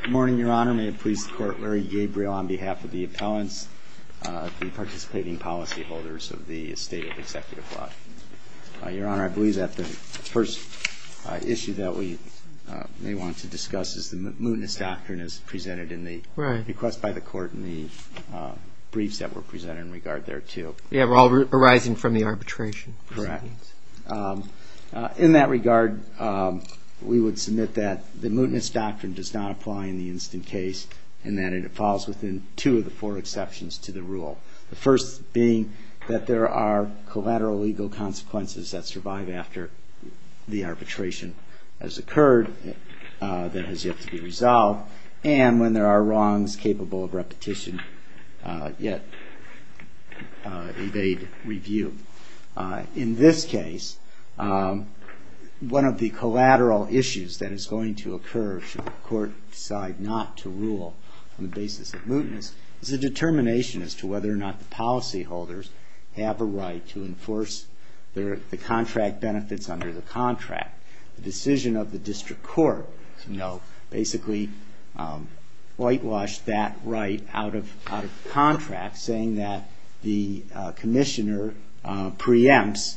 Good morning, Your Honor. May it please the Court, Larry Gabriel on behalf of the appellants, the participating policyholders of the State of Executive Law. Your Honor, I believe that the first issue that we may want to discuss is the mootness doctrine as presented in the request by the Court and the briefs that were presented in regard there too. Yeah, we're all arising from the arbitration proceedings. In that regard, we would submit that the mootness doctrine does not apply in the instant case and that it falls within two of the four exceptions to the rule. The first being that there are collateral legal consequences that survive after the arbitration has occurred, that has yet to be resolved, and when there are wrongs capable of repetition yet evade review. In this case, one of the collateral issues that is going to occur should the Court decide not to rule on the basis of mootness is the determination as to whether or not the policyholders have a right to enforce the contract benefits under the contract. The decision of the district court basically whitewashed that right out of contract, saying that the commissioner preempts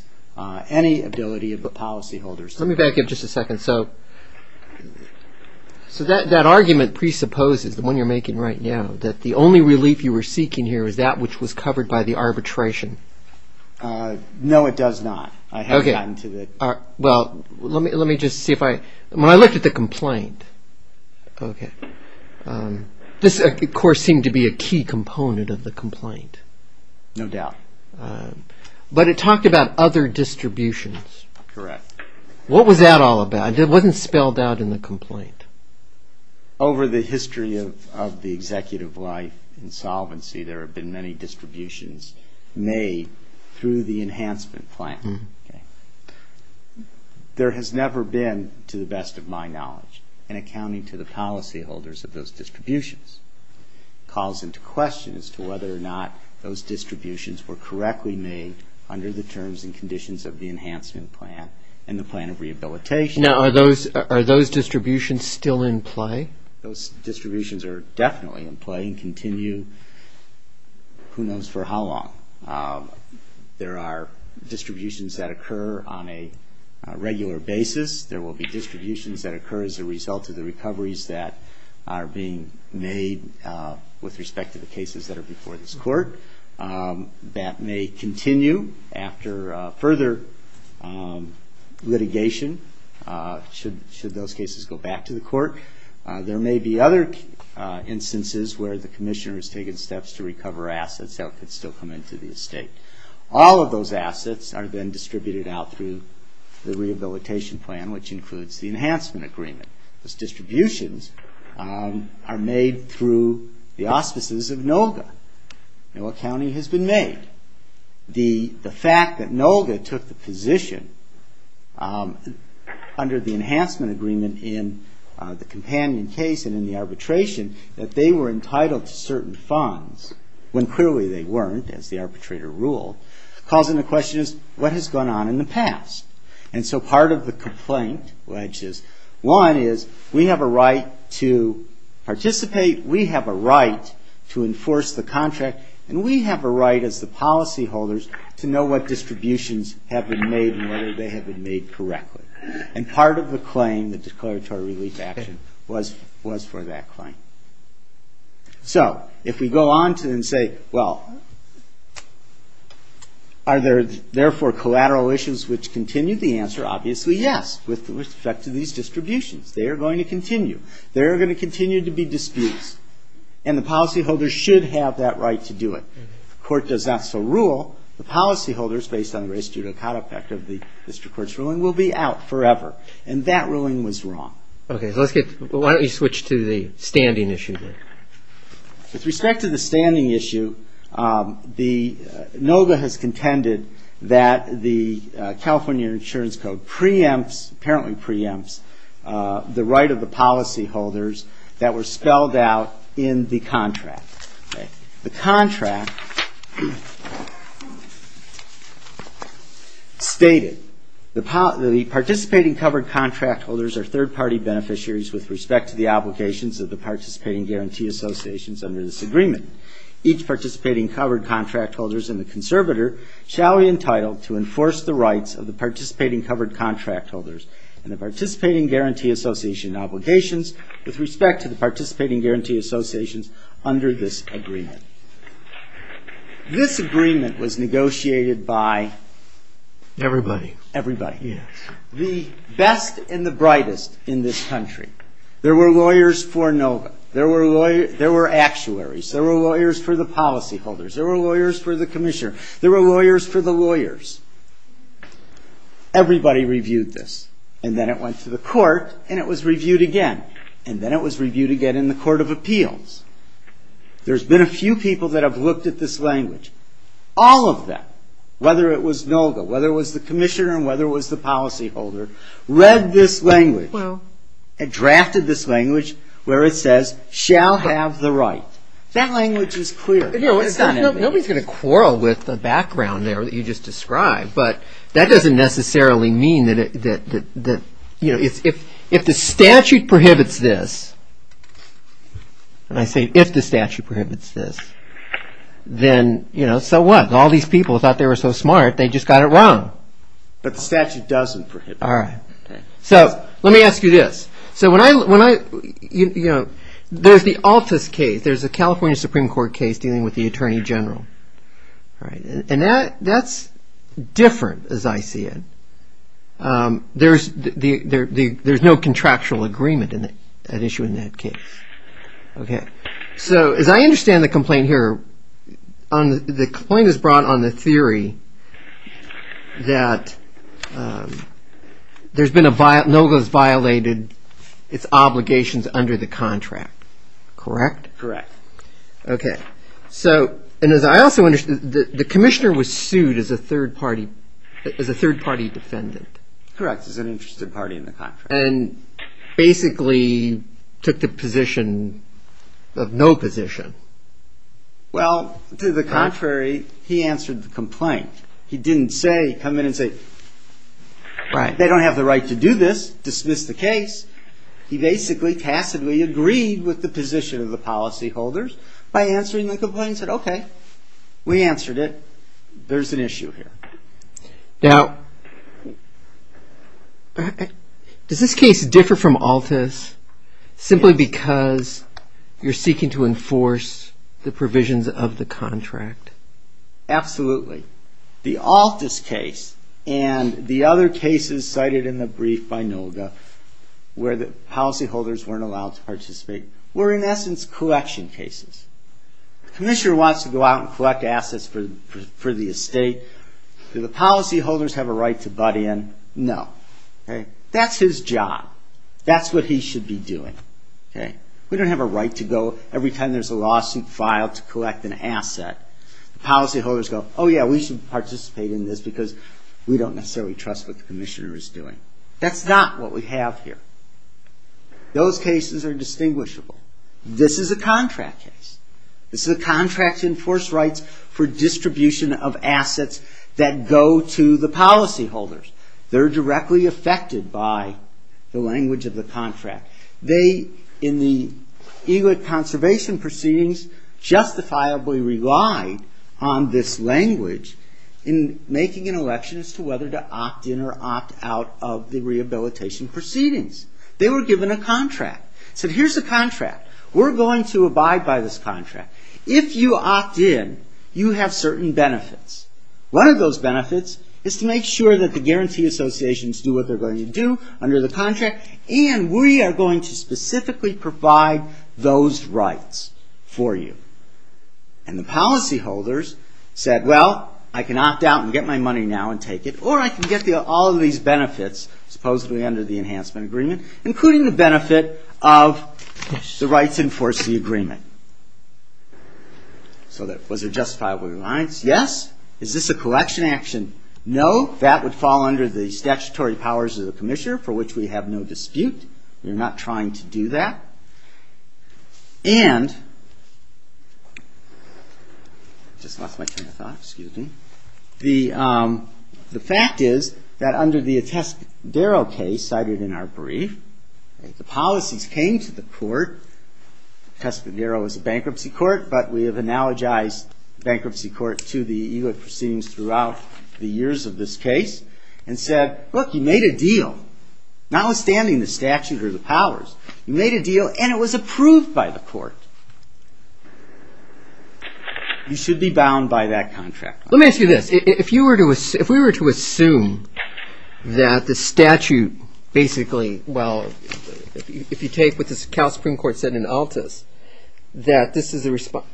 any ability of the policyholders. Let me back up just a second. So that argument presupposes, the one you're making right now, that the only relief you were seeking here is that which was covered by the arbitration. No, it does not. Well, let me just see if I, when I looked at the complaint, this of course seemed to be a key component of the complaint. No doubt. But it talked about other distributions. Correct. What was that all about? It wasn't spelled out in the complaint. Over the history of the executive life in solvency, there have been many distributions made through the enhancement plan. There has never been, to the best of my knowledge, an accounting to the policyholders of those distributions. It calls into question as to whether or not those distributions were correctly made under the terms and conditions of the enhancement plan and the plan of rehabilitation. Now, are those distributions still in play? Those distributions are definitely in play and continue who knows for how long. There are distributions that occur on a regular basis. There will be distributions that occur as a result of the recoveries that are being made with respect to the cases that are before this court. That may continue after further litigation should those cases go back to the court. There may be other instances where the commissioner has taken steps to recover assets that could still come into the estate. All of those assets are then distributed out through the rehabilitation plan, which includes the enhancement agreement. Those distributions are made through the auspices of NOLGA. No accounting has been made. The fact that NOLGA took the position under the enhancement agreement in the companion case and in the arbitration that they were entitled to certain funds, when clearly they weren't, as the arbitrator ruled, calls into question what has gone on in the past. And so part of the complaint, which is one, is we have a right to participate, we have a right to enforce the contract, and we have a right as the policyholders to know what distributions have been made and whether they have been made correctly. And part of the claim, the declaratory relief action, was for that claim. So if we go on and say, well, are there, therefore, collateral issues which continue? The answer, obviously, yes, with respect to these distributions. They are going to continue. There are going to continue to be disputes. And the policyholders should have that right to do it. The court does not so rule. The policyholders, based on the race judicata factor of the district court's ruling, will be out forever. And that ruling was wrong. Okay. Why don't you switch to the standing issue there? With respect to the standing issue, NOGA has contended that the California Insurance Code preempts, apparently preempts, the right of the policyholders that were spelled out in the contract. The contract stated, the participating covered contract holders are third-party beneficiaries with respect to the obligations of the participating guarantee associations under this agreement. Each participating covered contract holder and the conservator shall be entitled to enforce the rights of the participating covered contract holders and the participating guarantee association obligations with respect to the participating guarantee associations under this agreement. This agreement was negotiated by? Everybody. Everybody. Yes. The best and the brightest in this country. There were lawyers for NOGA. There were actuaries. There were lawyers for the policyholders. There were lawyers for the commissioner. There were lawyers for the lawyers. Everybody reviewed this. And then it went to the court, and it was reviewed again. And then it was reviewed again in the Court of Appeals. There's been a few people that have looked at this language. All of them, whether it was NOGA, whether it was the commissioner, and whether it was the policyholder, read this language and drafted this language where it says, shall have the right. That language is clear. Nobody's going to quarrel with the background there that you just described, but that doesn't necessarily mean that, you know, if the statute prohibits this, and I say if the statute prohibits this, then, you know, so what? All these people thought they were so smart, they just got it wrong. But the statute doesn't prohibit it. All right. So let me ask you this. So when I, you know, there's the Altus case. There's a California Supreme Court case dealing with the attorney general. All right. And that's different, as I see it. There's no contractual agreement at issue in that case. Okay. So as I understand the complaint here, the complaint is brought on the theory that NOGA has violated its obligations under the contract. Correct? Correct. Okay. So, and as I also understand, the commissioner was sued as a third-party defendant. Correct, as an interested party in the contract. And basically took the position of no position. Well, to the contrary, he answered the complaint. He didn't say, come in and say, they don't have the right to do this, dismiss the case. He basically tacitly agreed with the position of the policyholders by answering the complaint and said, okay, we answered it. There's an issue here. Now, does this case differ from Altus simply because you're seeking to enforce the provisions of the contract? Absolutely. The Altus case and the other cases cited in the brief by NOGA where the policyholders weren't allowed to participate were, in essence, collection cases. The commissioner wants to go out and collect assets for the estate. Do the policyholders have a right to butt in? No. Okay. That's his job. That's what he should be doing. Okay. We don't have a right to go every time there's a lawsuit filed to collect an asset. The policyholders go, oh, yeah, we should participate in this because we don't necessarily trust what the commissioner is doing. That's not what we have here. Those cases are distinguishable. This is a contract case. This is a contract to enforce rights for distribution of assets that go to the policyholders. They're directly affected by the language of the contract. They, in the EGLET conservation proceedings, justifiably relied on this language in making an election as to whether to opt in or opt out of the rehabilitation proceedings. They were given a contract. Said, here's the contract. We're going to abide by this contract. If you opt in, you have certain benefits. One of those benefits is to make sure that the guarantee associations do what they're going to do under the contract, and we are going to specifically provide those rights for you. And the policyholders said, well, I can opt out and get my money now and take it, or I can get all of these benefits, supposedly under the enhancement agreement, including the benefit of the rights to enforce the agreement. So was it justifiably reliance? Yes. Is this a collection action? No. That would fall under the statutory powers of the commissioner, for which we have no dispute. We're not trying to do that. And the fact is that under the Atescadero case cited in our brief, the policies came to the court. Atescadero is a bankruptcy court, but we have analogized bankruptcy court to the ELA proceedings throughout the years of this case, and said, look, you made a deal. Notwithstanding the statute or the powers, you made a deal, and it was approved by the court. You should be bound by that contract. Let me ask you this. If we were to assume that the statute basically, well, if you take what the Supreme Court said in Altas, that this is a response,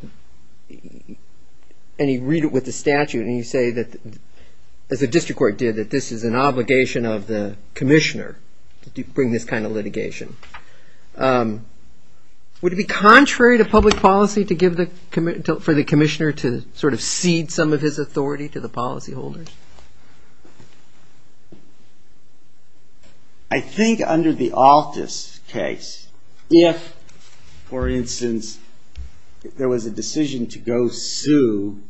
and you read it with the statute, and you say that, as the district court did, that this is an obligation of the commissioner to bring this kind of litigation, would it be contrary to public policy for the commissioner to sort of cede some of his authority to the policyholders? I think under the Altas case, if, for instance, there was a decision to go sue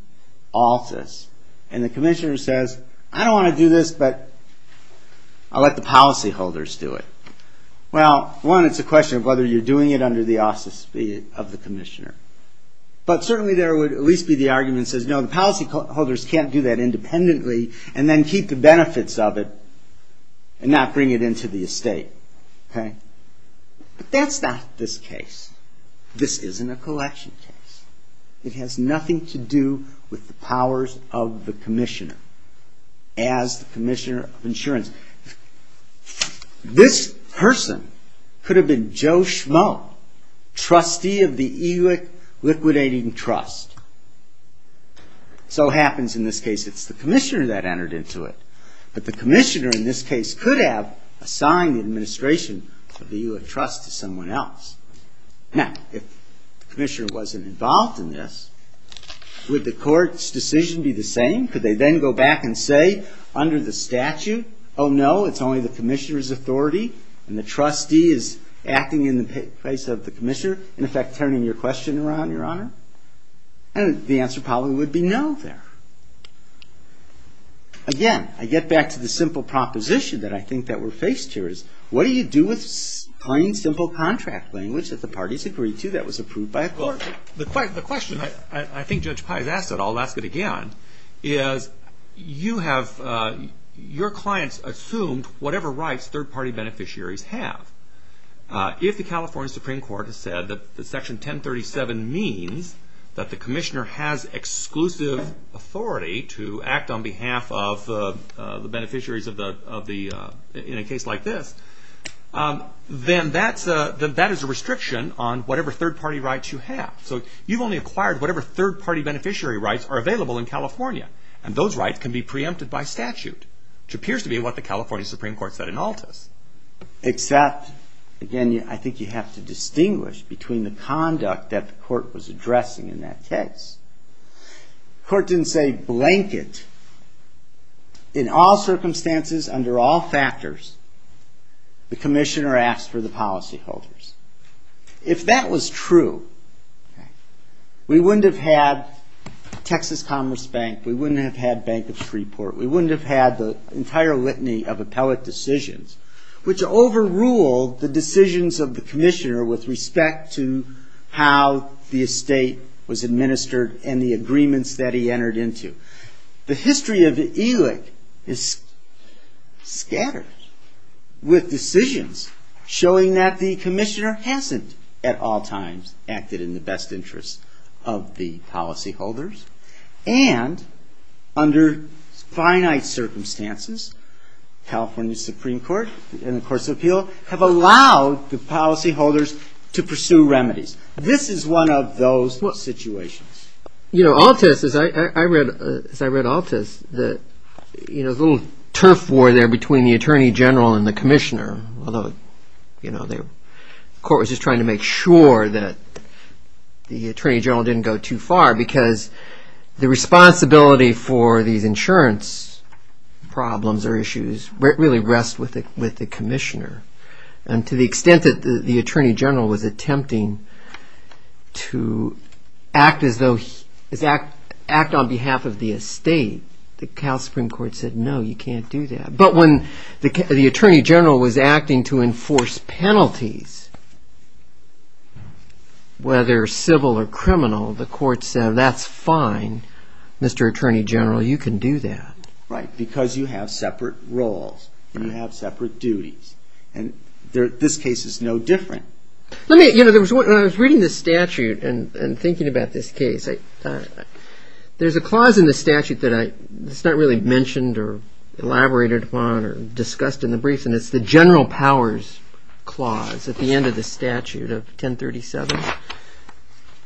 Altas, and the commissioner says, I don't want to do this, but I'll let the policyholders do it. Well, one, it's a question of whether you're doing it under the auspices of the commissioner. But certainly, there would at least be the argument that says, no, the policyholders can't do that independently, and then keep the benefits of it, and not bring it into the estate. But that's not this case. This isn't a collection case. It has nothing to do with the powers of the commissioner, as the commissioner of insurance. This person could have been Joe Schmoe, trustee of the ELIC liquidating trust. So it happens in this case, it's the commissioner that entered into it. But the commissioner, in this case, could have assigned the administration of the ELIC trust to someone else. Now, if the commissioner wasn't involved in this, would the court's decision be the same? Could they then go back and say, under the statute, oh, no, it's only the commissioner's authority, and the trustee is acting in the place of the commissioner, in effect, turning your question around, your honor? And the answer probably would be no there. Again, I get back to the simple proposition that I think that we're faced here is, what do you do with plain, simple contract language that the parties agreed to that was approved by a court? The question I think Judge Pye has asked, and I'll ask it again, is your clients assumed whatever rights third-party beneficiaries have. If the California Supreme Court has said that section 1037 means that the commissioner has exclusive authority to act on behalf of the beneficiaries in a case like this, then that is a restriction on whatever third-party rights you have. So you've only acquired whatever third-party beneficiary rights are available in California, and those rights can be preempted by statute, which appears to be what the California Supreme Court said in Altus. Except, again, I think you have to distinguish between the conduct that the court was addressing in that case. The court didn't say, blanket, in all circumstances, under all factors, the commissioner asked for the policyholders. If that was true, we wouldn't have had Texas Commerce Bank, we wouldn't have had Bank of Freeport, we wouldn't have had the entire litany of appellate decisions, which overruled the decisions of the commissioner with respect to how the estate was administered and the agreements that he entered into. The history of the ELIC is scattered with decisions showing that the commissioner was not the only one who was involved. The commissioner hasn't at all times acted in the best interest of the policyholders, and under finite circumstances, California Supreme Court and the Courts of Appeal have allowed the policyholders to pursue remedies. This is one of those situations. Altus, as I read Altus, there's a little turf war there between the attorney general and the commissioner, although the court was just trying to make sure that the attorney general didn't go too far, because the responsibility for these insurance problems or issues really rest with the commissioner. And to the extent that the attorney general was attempting to act on behalf of the estate, the Cal Supreme Court said, no, you can't do that. But when the attorney general was acting to enforce penalties, whether civil or criminal, the court said, that's fine, Mr. Attorney General, you can do that. Because you have separate roles, you have separate duties, and this case is no different. When I was reading this statute and thinking about this case, there's a clause in the statute that's not really mentioned or elaborated upon or discussed in the briefs, and it's the general powers clause at the end of the statute of 1037.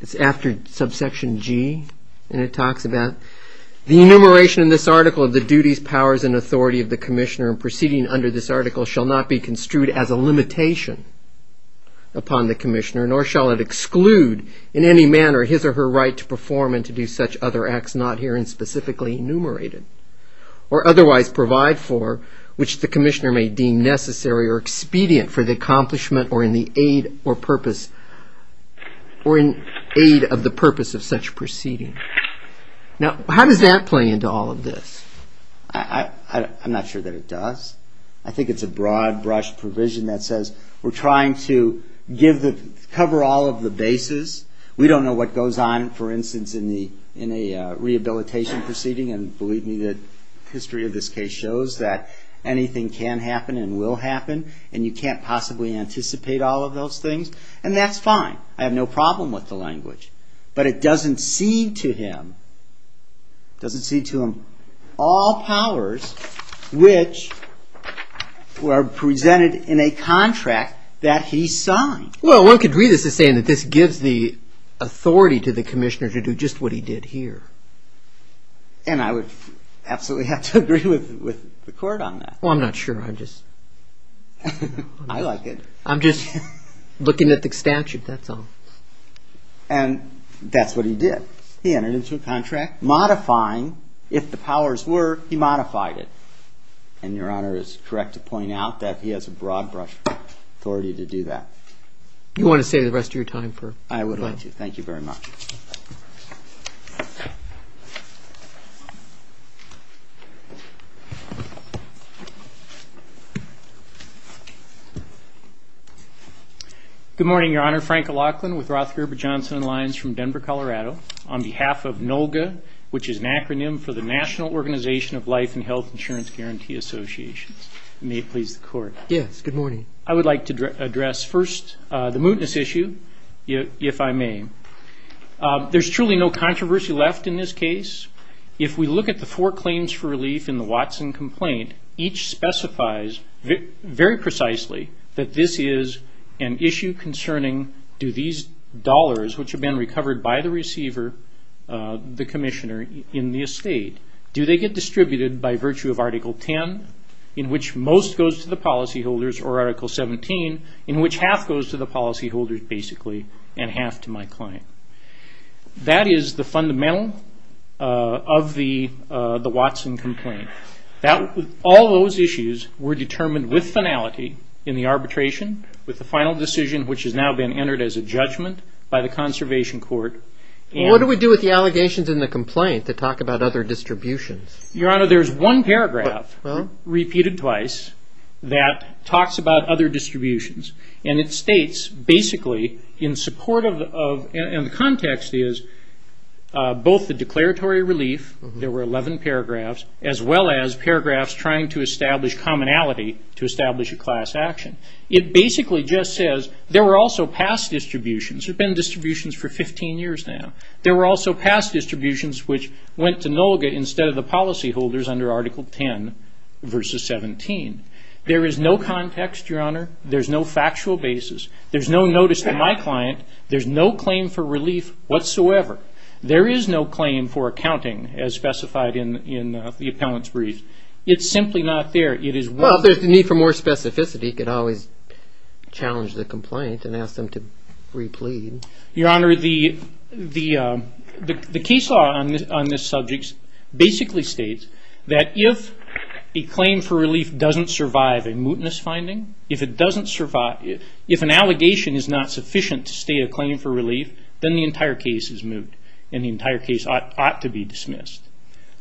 It's after subsection G, and it talks about the enumeration in this article of the duties, powers, and authority of the commissioner. And proceeding under this article shall not be construed as a limitation upon the commissioner, nor shall it exclude in any manner his or her right to perform and to do such other acts not herein specifically enumerated, or otherwise provide for, which the commissioner may deem necessary or expedient for the accomplishment or in the aid or purpose of the act. Now, how does that play into all of this? I'm not sure that it does. I think it's a broad brush provision that says we're trying to cover all of the bases. We don't know what goes on, for instance, in a rehabilitation proceeding, and believe me, the history of this case shows that anything can happen and will happen, and you can't possibly anticipate all of those things, and that's fine. But it doesn't cede to him all powers which were presented in a contract that he signed. Well, one could read this as saying that this gives the authority to the commissioner to do just what he did here. And I would absolutely have to agree with the court on that. Well, I'm not sure. I'm just looking at the statute, that's all. And that's what he did. He entered into a contract modifying, if the powers were, he modified it. And Your Honor is correct to point out that he has a broad brush authority to do that. You want to stay the rest of your time? I would like to. Thank you very much. Good morning, Your Honor. Frank O'Loughlin with Roth, Gerber, Johnson & Lyons from Denver, Colorado, on behalf of NOLGA, which is an acronym for the National Organization of Life and Health Insurance Guarantee Associations. May it please the court. Yes, good morning. I would like to address first the mootness issue, if I may. There's truly no controversy left in this case. If we look at the four claims for relief in the Watson complaint, each specifies very precisely that this is an issue concerning, do these dollars, which have been recovered by the receiver, the commissioner, in the estate, do they get distributed by virtue of Article 10, in which most goes to the policyholders or are accomplished by the state? And Article 17, in which half goes to the policyholders, basically, and half to my client. That is the fundamental of the Watson complaint. All those issues were determined with finality in the arbitration, with the final decision, which has now been entered as a judgment by the Conservation Court. What do we do with the allegations in the complaint that talk about other distributions? Your Honor, there's one paragraph, repeated twice, that talks about other distributions. And it states, basically, in support of, and the context is, both the declaratory relief, there were 11 paragraphs, as well as paragraphs trying to establish commonality to establish a class action. It basically just says, there were also past distributions. There have been distributions for 15 years now. There were also past distributions which went to NOLGA instead of the policyholders under Article 10, versus 17. There is no context, Your Honor. There's no factual basis. There's no notice to my client. There's no claim for relief whatsoever. There is no claim for accounting, as specified in the appellant's brief. It's simply not there. Well, if there's a need for more specificity, you could always challenge the complaint and ask them to re-plead. Your Honor, the case law on this subject basically states that if a claim for relief doesn't survive a mootness finding, if an allegation is not sufficient to stay a claim for relief, then the entire case is moot. And the entire case ought to be dismissed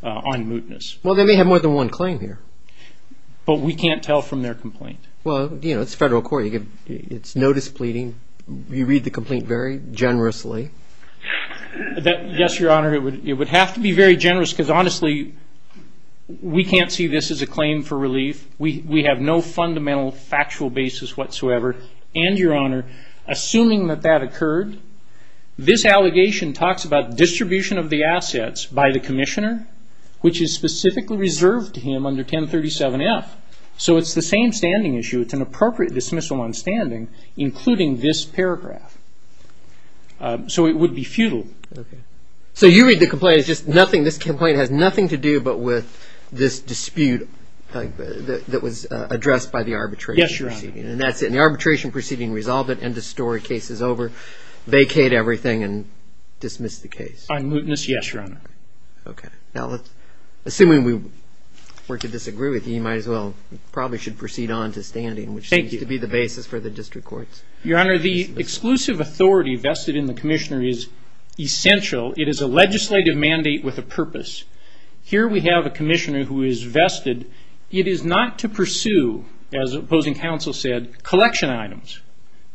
on mootness. Well, they may have more than one claim here. But we can't tell from their complaint. Well, you know, it's federal court. It's notice pleading. You read the complaint very generously. Yes, Your Honor, it would have to be very generous, because honestly, we can't see this as a claim for relief. We have no fundamental factual basis whatsoever. And, Your Honor, assuming that that occurred, this allegation talks about distribution of the assets by the commissioner, which is specifically reserved to him under 1037-F. So it's the same standing issue. It's an appropriate dismissal on standing, including this paragraph. So it would be futile. Okay. So you read the complaint. It's just nothing. This complaint has nothing to do but with this dispute that was addressed by the arbitrator. Yes, Your Honor. And that's it. In the arbitration proceeding, resolve it, end of story, case is over, vacate everything, and dismiss the case. On mootness, yes, Your Honor. Okay. Now, assuming we were to disagree with you, you might as well probably should proceed on to standing, which seems to be the basis for the district courts. Thank you. Your Honor, the exclusive authority vested in the commissioner is essential. It is a legislative mandate with a purpose. Here we have a commissioner who is vested. It is not to pursue, as opposing counsel said, collection items.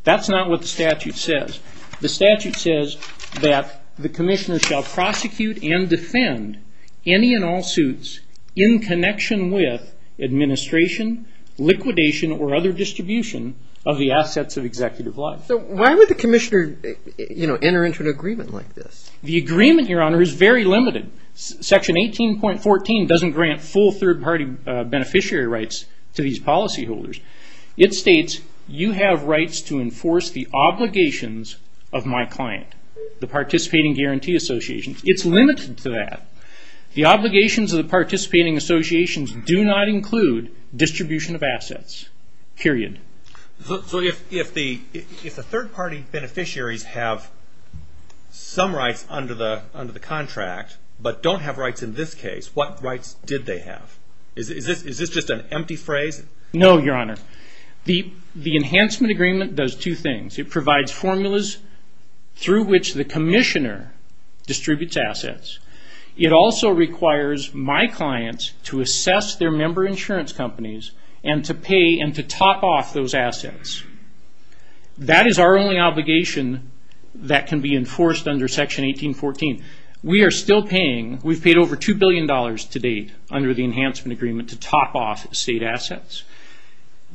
That's not what the statute says. The statute says that the commissioner shall prosecute and defend any and all suits in connection with administration, liquidation, or other distribution of the assets of executive life. So why would the commissioner enter into an agreement like this? The agreement, Your Honor, is very limited. Section 18.14 doesn't grant full third-party beneficiary rights to these policyholders. It states, you have rights to enforce the obligations of my client, the participating guarantee associations. It's limited to that. The obligations of the participating associations do not include distribution of assets, period. So if the third-party beneficiaries have some rights, under the contract, but don't have rights in this case, what rights did they have? Is this just an empty phrase? No, Your Honor. The enhancement agreement does two things. It provides formulas through which the commissioner distributes assets. It also requires my clients to assess their member insurance companies and to pay and to top off those assets. That is our only obligation that can be enforced under Section 18.14. We are still paying. We've paid over $2 billion to date under the enhancement agreement to top off state assets.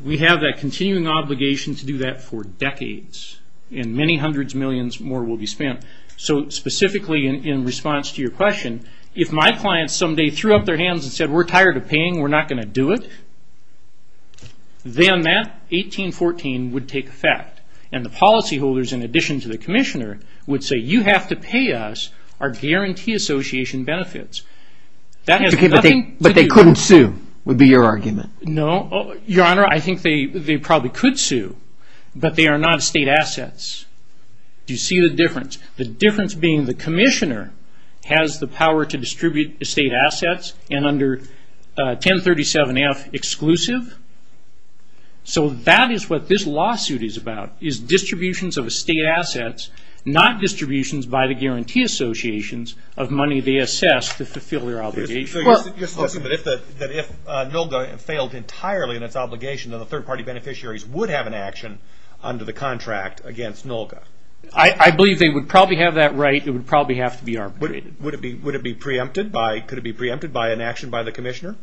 We have that continuing obligation to do that for decades, and many hundreds of millions more will be spent. So specifically in response to your question, if my clients someday threw up their hands and said, we're tired of paying, we're not going to do it, then that 18.14 would take effect. And the policyholders, in addition to the commissioner, would say, you have to pay us our guarantee association benefits. But they couldn't sue, would be your argument. No, Your Honor. I think they probably could sue, but they are not state assets. Do you see the difference? The difference being the commissioner has the power to distribute state assets and under 1037-F exclusive. So that is what this lawsuit is about. Distributions of state assets, not distributions by the guarantee associations of money they assess to fulfill their obligation. If NOLGA failed entirely in its obligation, then the third party beneficiaries would have an action under the contract against NOLGA. I believe they would probably have that right. It would probably have to be arbitrated. Could it be preempted by an action by the commissioner?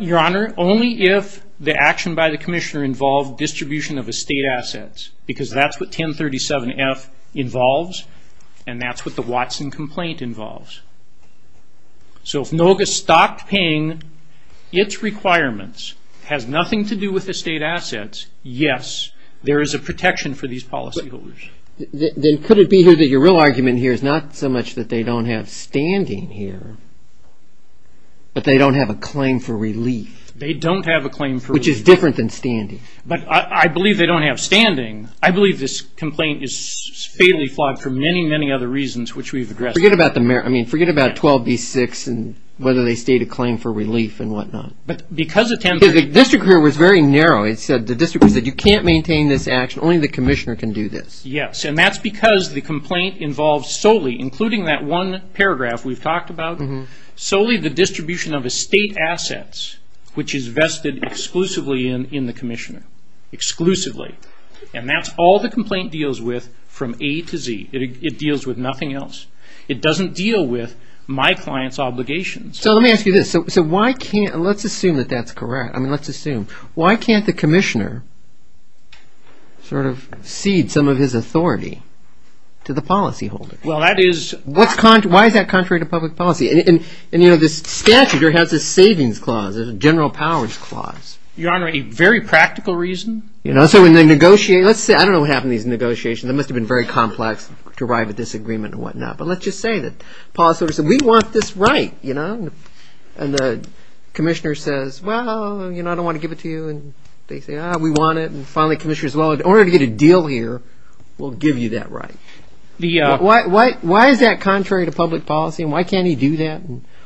Your Honor, only if the action by the commissioner involved distribution of estate assets, because that's what 1037-F involves, and that's what the Watson complaint involves. So if NOLGA stopped paying its requirements, has nothing to do with estate assets, yes, there is a protection for these policyholders. Then could it be that your real argument here is not so much that they don't have standing here, but they don't have a claim for relief? They don't have a claim for relief. Which is different than standing. But I believe they don't have standing. I believe this complaint is fatally flawed for many, many other reasons which we've addressed. Forget about 12b-6 and whether they state a claim for relief and whatnot. The district court was very narrow. The district court said you can't maintain this action, only the commissioner can do this. Yes, and that's because the complaint involves solely, including that one paragraph we've talked about, solely the distribution of estate assets, which is vested exclusively in the commissioner. Exclusively. And that's all the complaint deals with from A to Z. It deals with nothing else. It doesn't deal with my client's obligations. So let me ask you this. So why can't, let's assume that that's correct. I mean, let's assume. Why can't the commissioner sort of cede some of his authority to the policyholder? Well, that is. Why is that contrary to public policy? And you know, this statute has a savings clause, a general powers clause. Your Honor, a very practical reason. You know, so when they negotiate, let's say I don't know what happened in these negotiations. It must have been very complex to arrive at this agreement and whatnot. But let's just say that the policyholder said, we want this right, you know. And the commissioner says, well, you know, I don't want to give it to you. And they say, ah, we want it. And finally the commissioner says, well, in order to get a deal here we'll give you that right. Why is that contrary to public policy? And why can't he do that?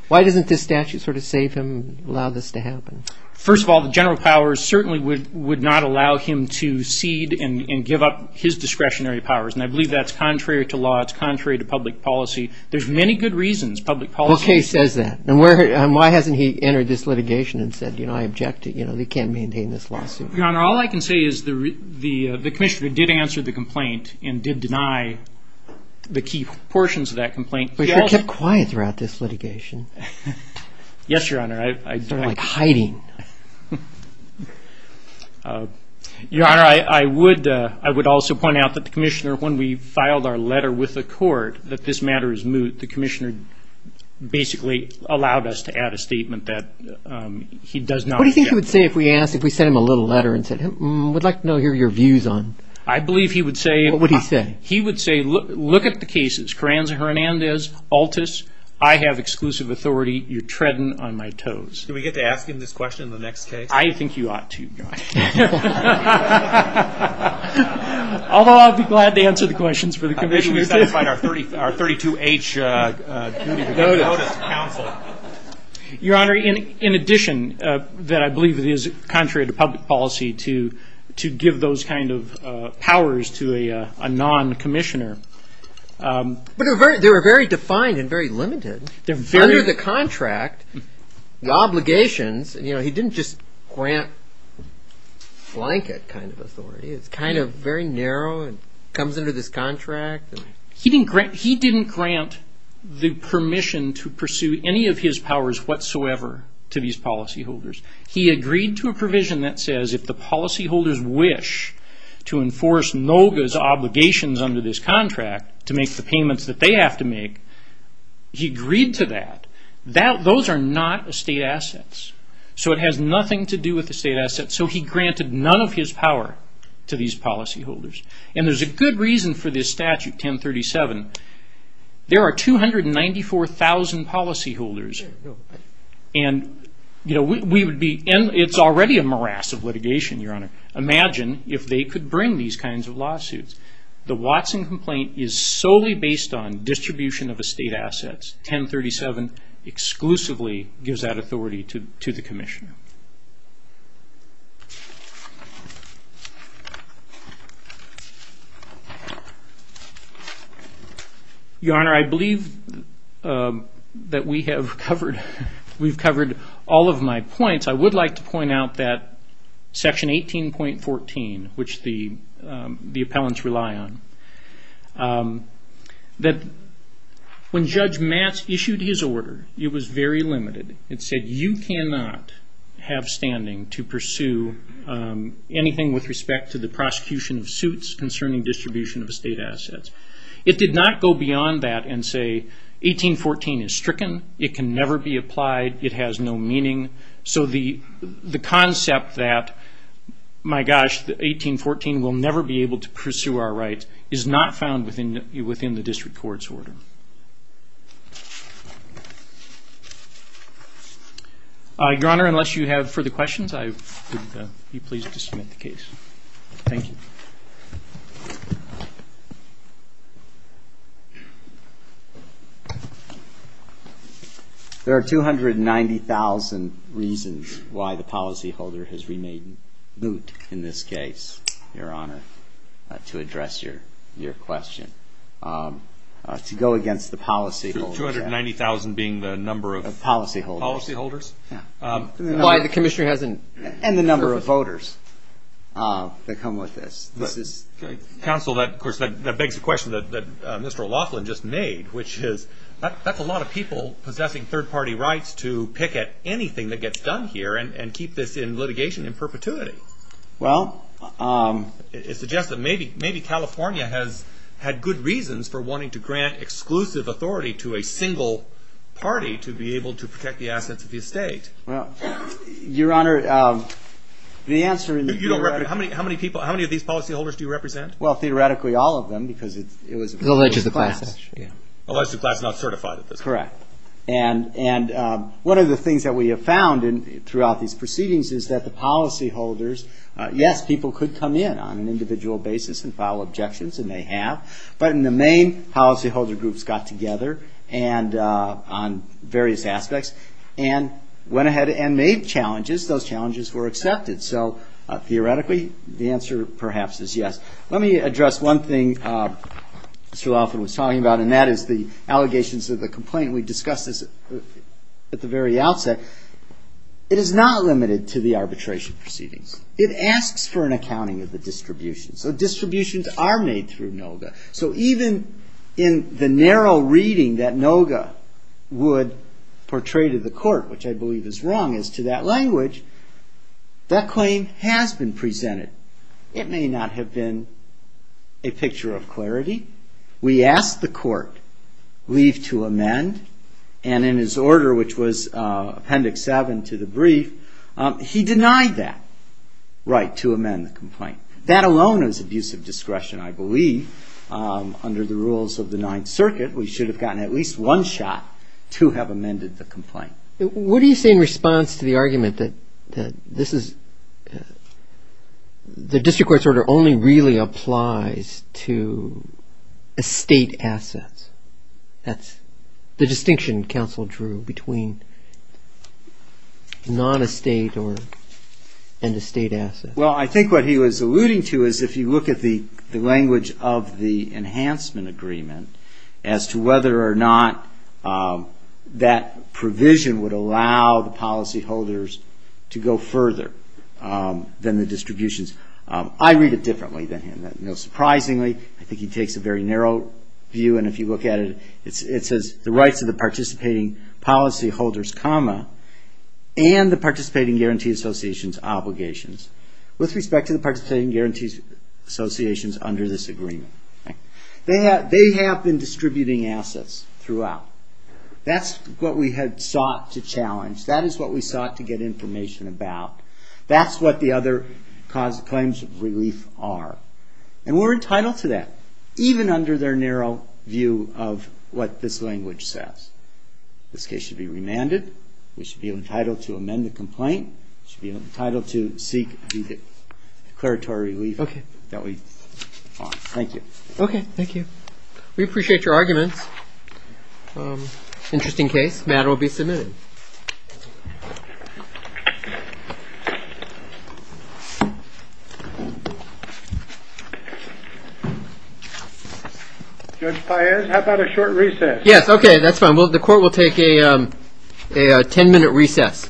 Why doesn't this statute sort of save him and allow this to happen? First of all, the general powers certainly would not allow him to cede and give up his discretionary powers. And I believe that's contrary to law. It's contrary to public policy. There's many good reasons. Public policy. Well, Kay says that. And why hasn't he entered this litigation and said, you know, I object to it. You know, they can't maintain this lawsuit. Your Honor, all I can say is the commissioner did answer the complaint and did deny the key portions of that complaint. But you kept quiet throughout this litigation. Yes, Your Honor. Sort of like hiding. Your Honor, I would also point out that the commissioner, when we filed our letter with the court that this matter is moot, the commissioner basically allowed us to add a statement that he does not object. What do you think he would say if we asked, if we don't hear your views on... I believe he would say... What would he say? He would say look at the cases. Carranza-Hernandez, Altus. I have exclusive authority. You're treading on my toes. Do we get to ask him this question in the next case? I think you ought to, Your Honor. Although I'd be glad to answer the questions for the commissioner. I think we should sign our 32H duty to give notice to counsel. Your Honor, in addition that I believe it is contrary to the law to give those kind of powers to a non-commissioner. But they were very defined and very limited. Under the contract, the obligations, he didn't just grant blanket kind of authority. It's kind of very narrow and comes under this contract. He didn't grant the permission to pursue any of his powers whatsoever to these policyholders. He agreed to a provision that says if the policyholders wish to enforce NOGA's obligations under this contract to make the payments that they have to make, he agreed to that. Those are not estate assets. It has nothing to do with estate assets. He granted none of his power to these policyholders. There's a good reason for this statute, 1037. There are 294,000 policyholders. It's already a morass of litigation. Imagine if they could bring these kinds of lawsuits. The Watson complaint is solely based on distribution of estate assets. 1037 exclusively gives that authority to the commissioner. Your Honor, I believe that we have covered all of my points. I would like to point out that section 18.14, which the appellants rely on, that when Judge Matz issued his order, it was very limited. It said you cannot have standing to pursue anything with respect to the prosecution of suits concerning distribution of estate assets. It did not go beyond that and say 18.14 is stricken. It can never be applied. It has no meaning. The concept that, my gosh, 18.14 will never be able to pursue our rights is not found within the District Court's order. Your Honor, unless you have further questions, I would be pleased to submit the case. Thank you. There are 290,000 reasons why the policyholder has remade moot in this case, Your Honor, to address your question. To go against the policyholders. 290,000 being the number of policyholders? Why the commissioner hasn't... And the number of voters that come with this. Counsel, that begs the question that Mr. Laughlin just made, which is, that's a lot of people possessing third-party rights to pick at anything that gets done here and keep this litigation in perpetuity. It suggests that maybe California has had good reasons for wanting to grant exclusive authority to a single party to be able to protect the assets of the estate. Your Honor, the answer... How many of these policyholders do you represent? Well, theoretically, all of them, because it was... Correct. And one of the things that we have found throughout these proceedings is that the policyholders, yes, people could come in on an individual basis and file objections, and they have, but in the main policyholder groups got together on various aspects and went ahead and made challenges. Those challenges were they... The answer, perhaps, is yes. Let me address one thing Mr. Laughlin was talking about, and that is the allegations of the complaint. We discussed this at the very outset. It is not limited to the arbitration proceedings. It asks for an accounting of the distributions. So distributions are made through NOGA. So even in the narrow reading that NOGA would portray to the court, which I believe is wrong as to that language, that claim has been presented. It may not have been a picture of clarity. We asked the court leave to amend, and in his order, which was Appendix 7 to the brief, he denied that right to amend the complaint. That alone is abusive discretion, I believe. Under the rules of the Ninth Circuit, we should have gotten at least one shot to have amended the complaint. What do you say in response to the argument that the district court's order only really applies to estate assets? That's the distinction counsel drew between non-estate and estate assets. Well, I think what he was alluding to is if you look at the language of the enhancement agreement as to whether or not that provision would allow the policyholders to go further than the distributions. I read it differently than him. Surprisingly, I think he takes a very narrow view, and if you look at it, it says the rights of the participating policyholders, and the participating guarantee associations' obligations with respect to the participating guarantee associations under this agreement. They have been distributing assets throughout. That's what we had sought to challenge. That is what we sought to get information about. That's what the other claims of relief are. And we're entitled to that, even under their narrow view of what this language says. This case should be remanded. We should be entitled to amend the complaint. We should be entitled to seek declaratory relief that we want. Thank you. Okay. Thank you. We appreciate your arguments. Interesting case. Matter will be submitted. Judge Paez, how about a short recess? Yes, okay. That's fine. The court will take a ten-minute recess.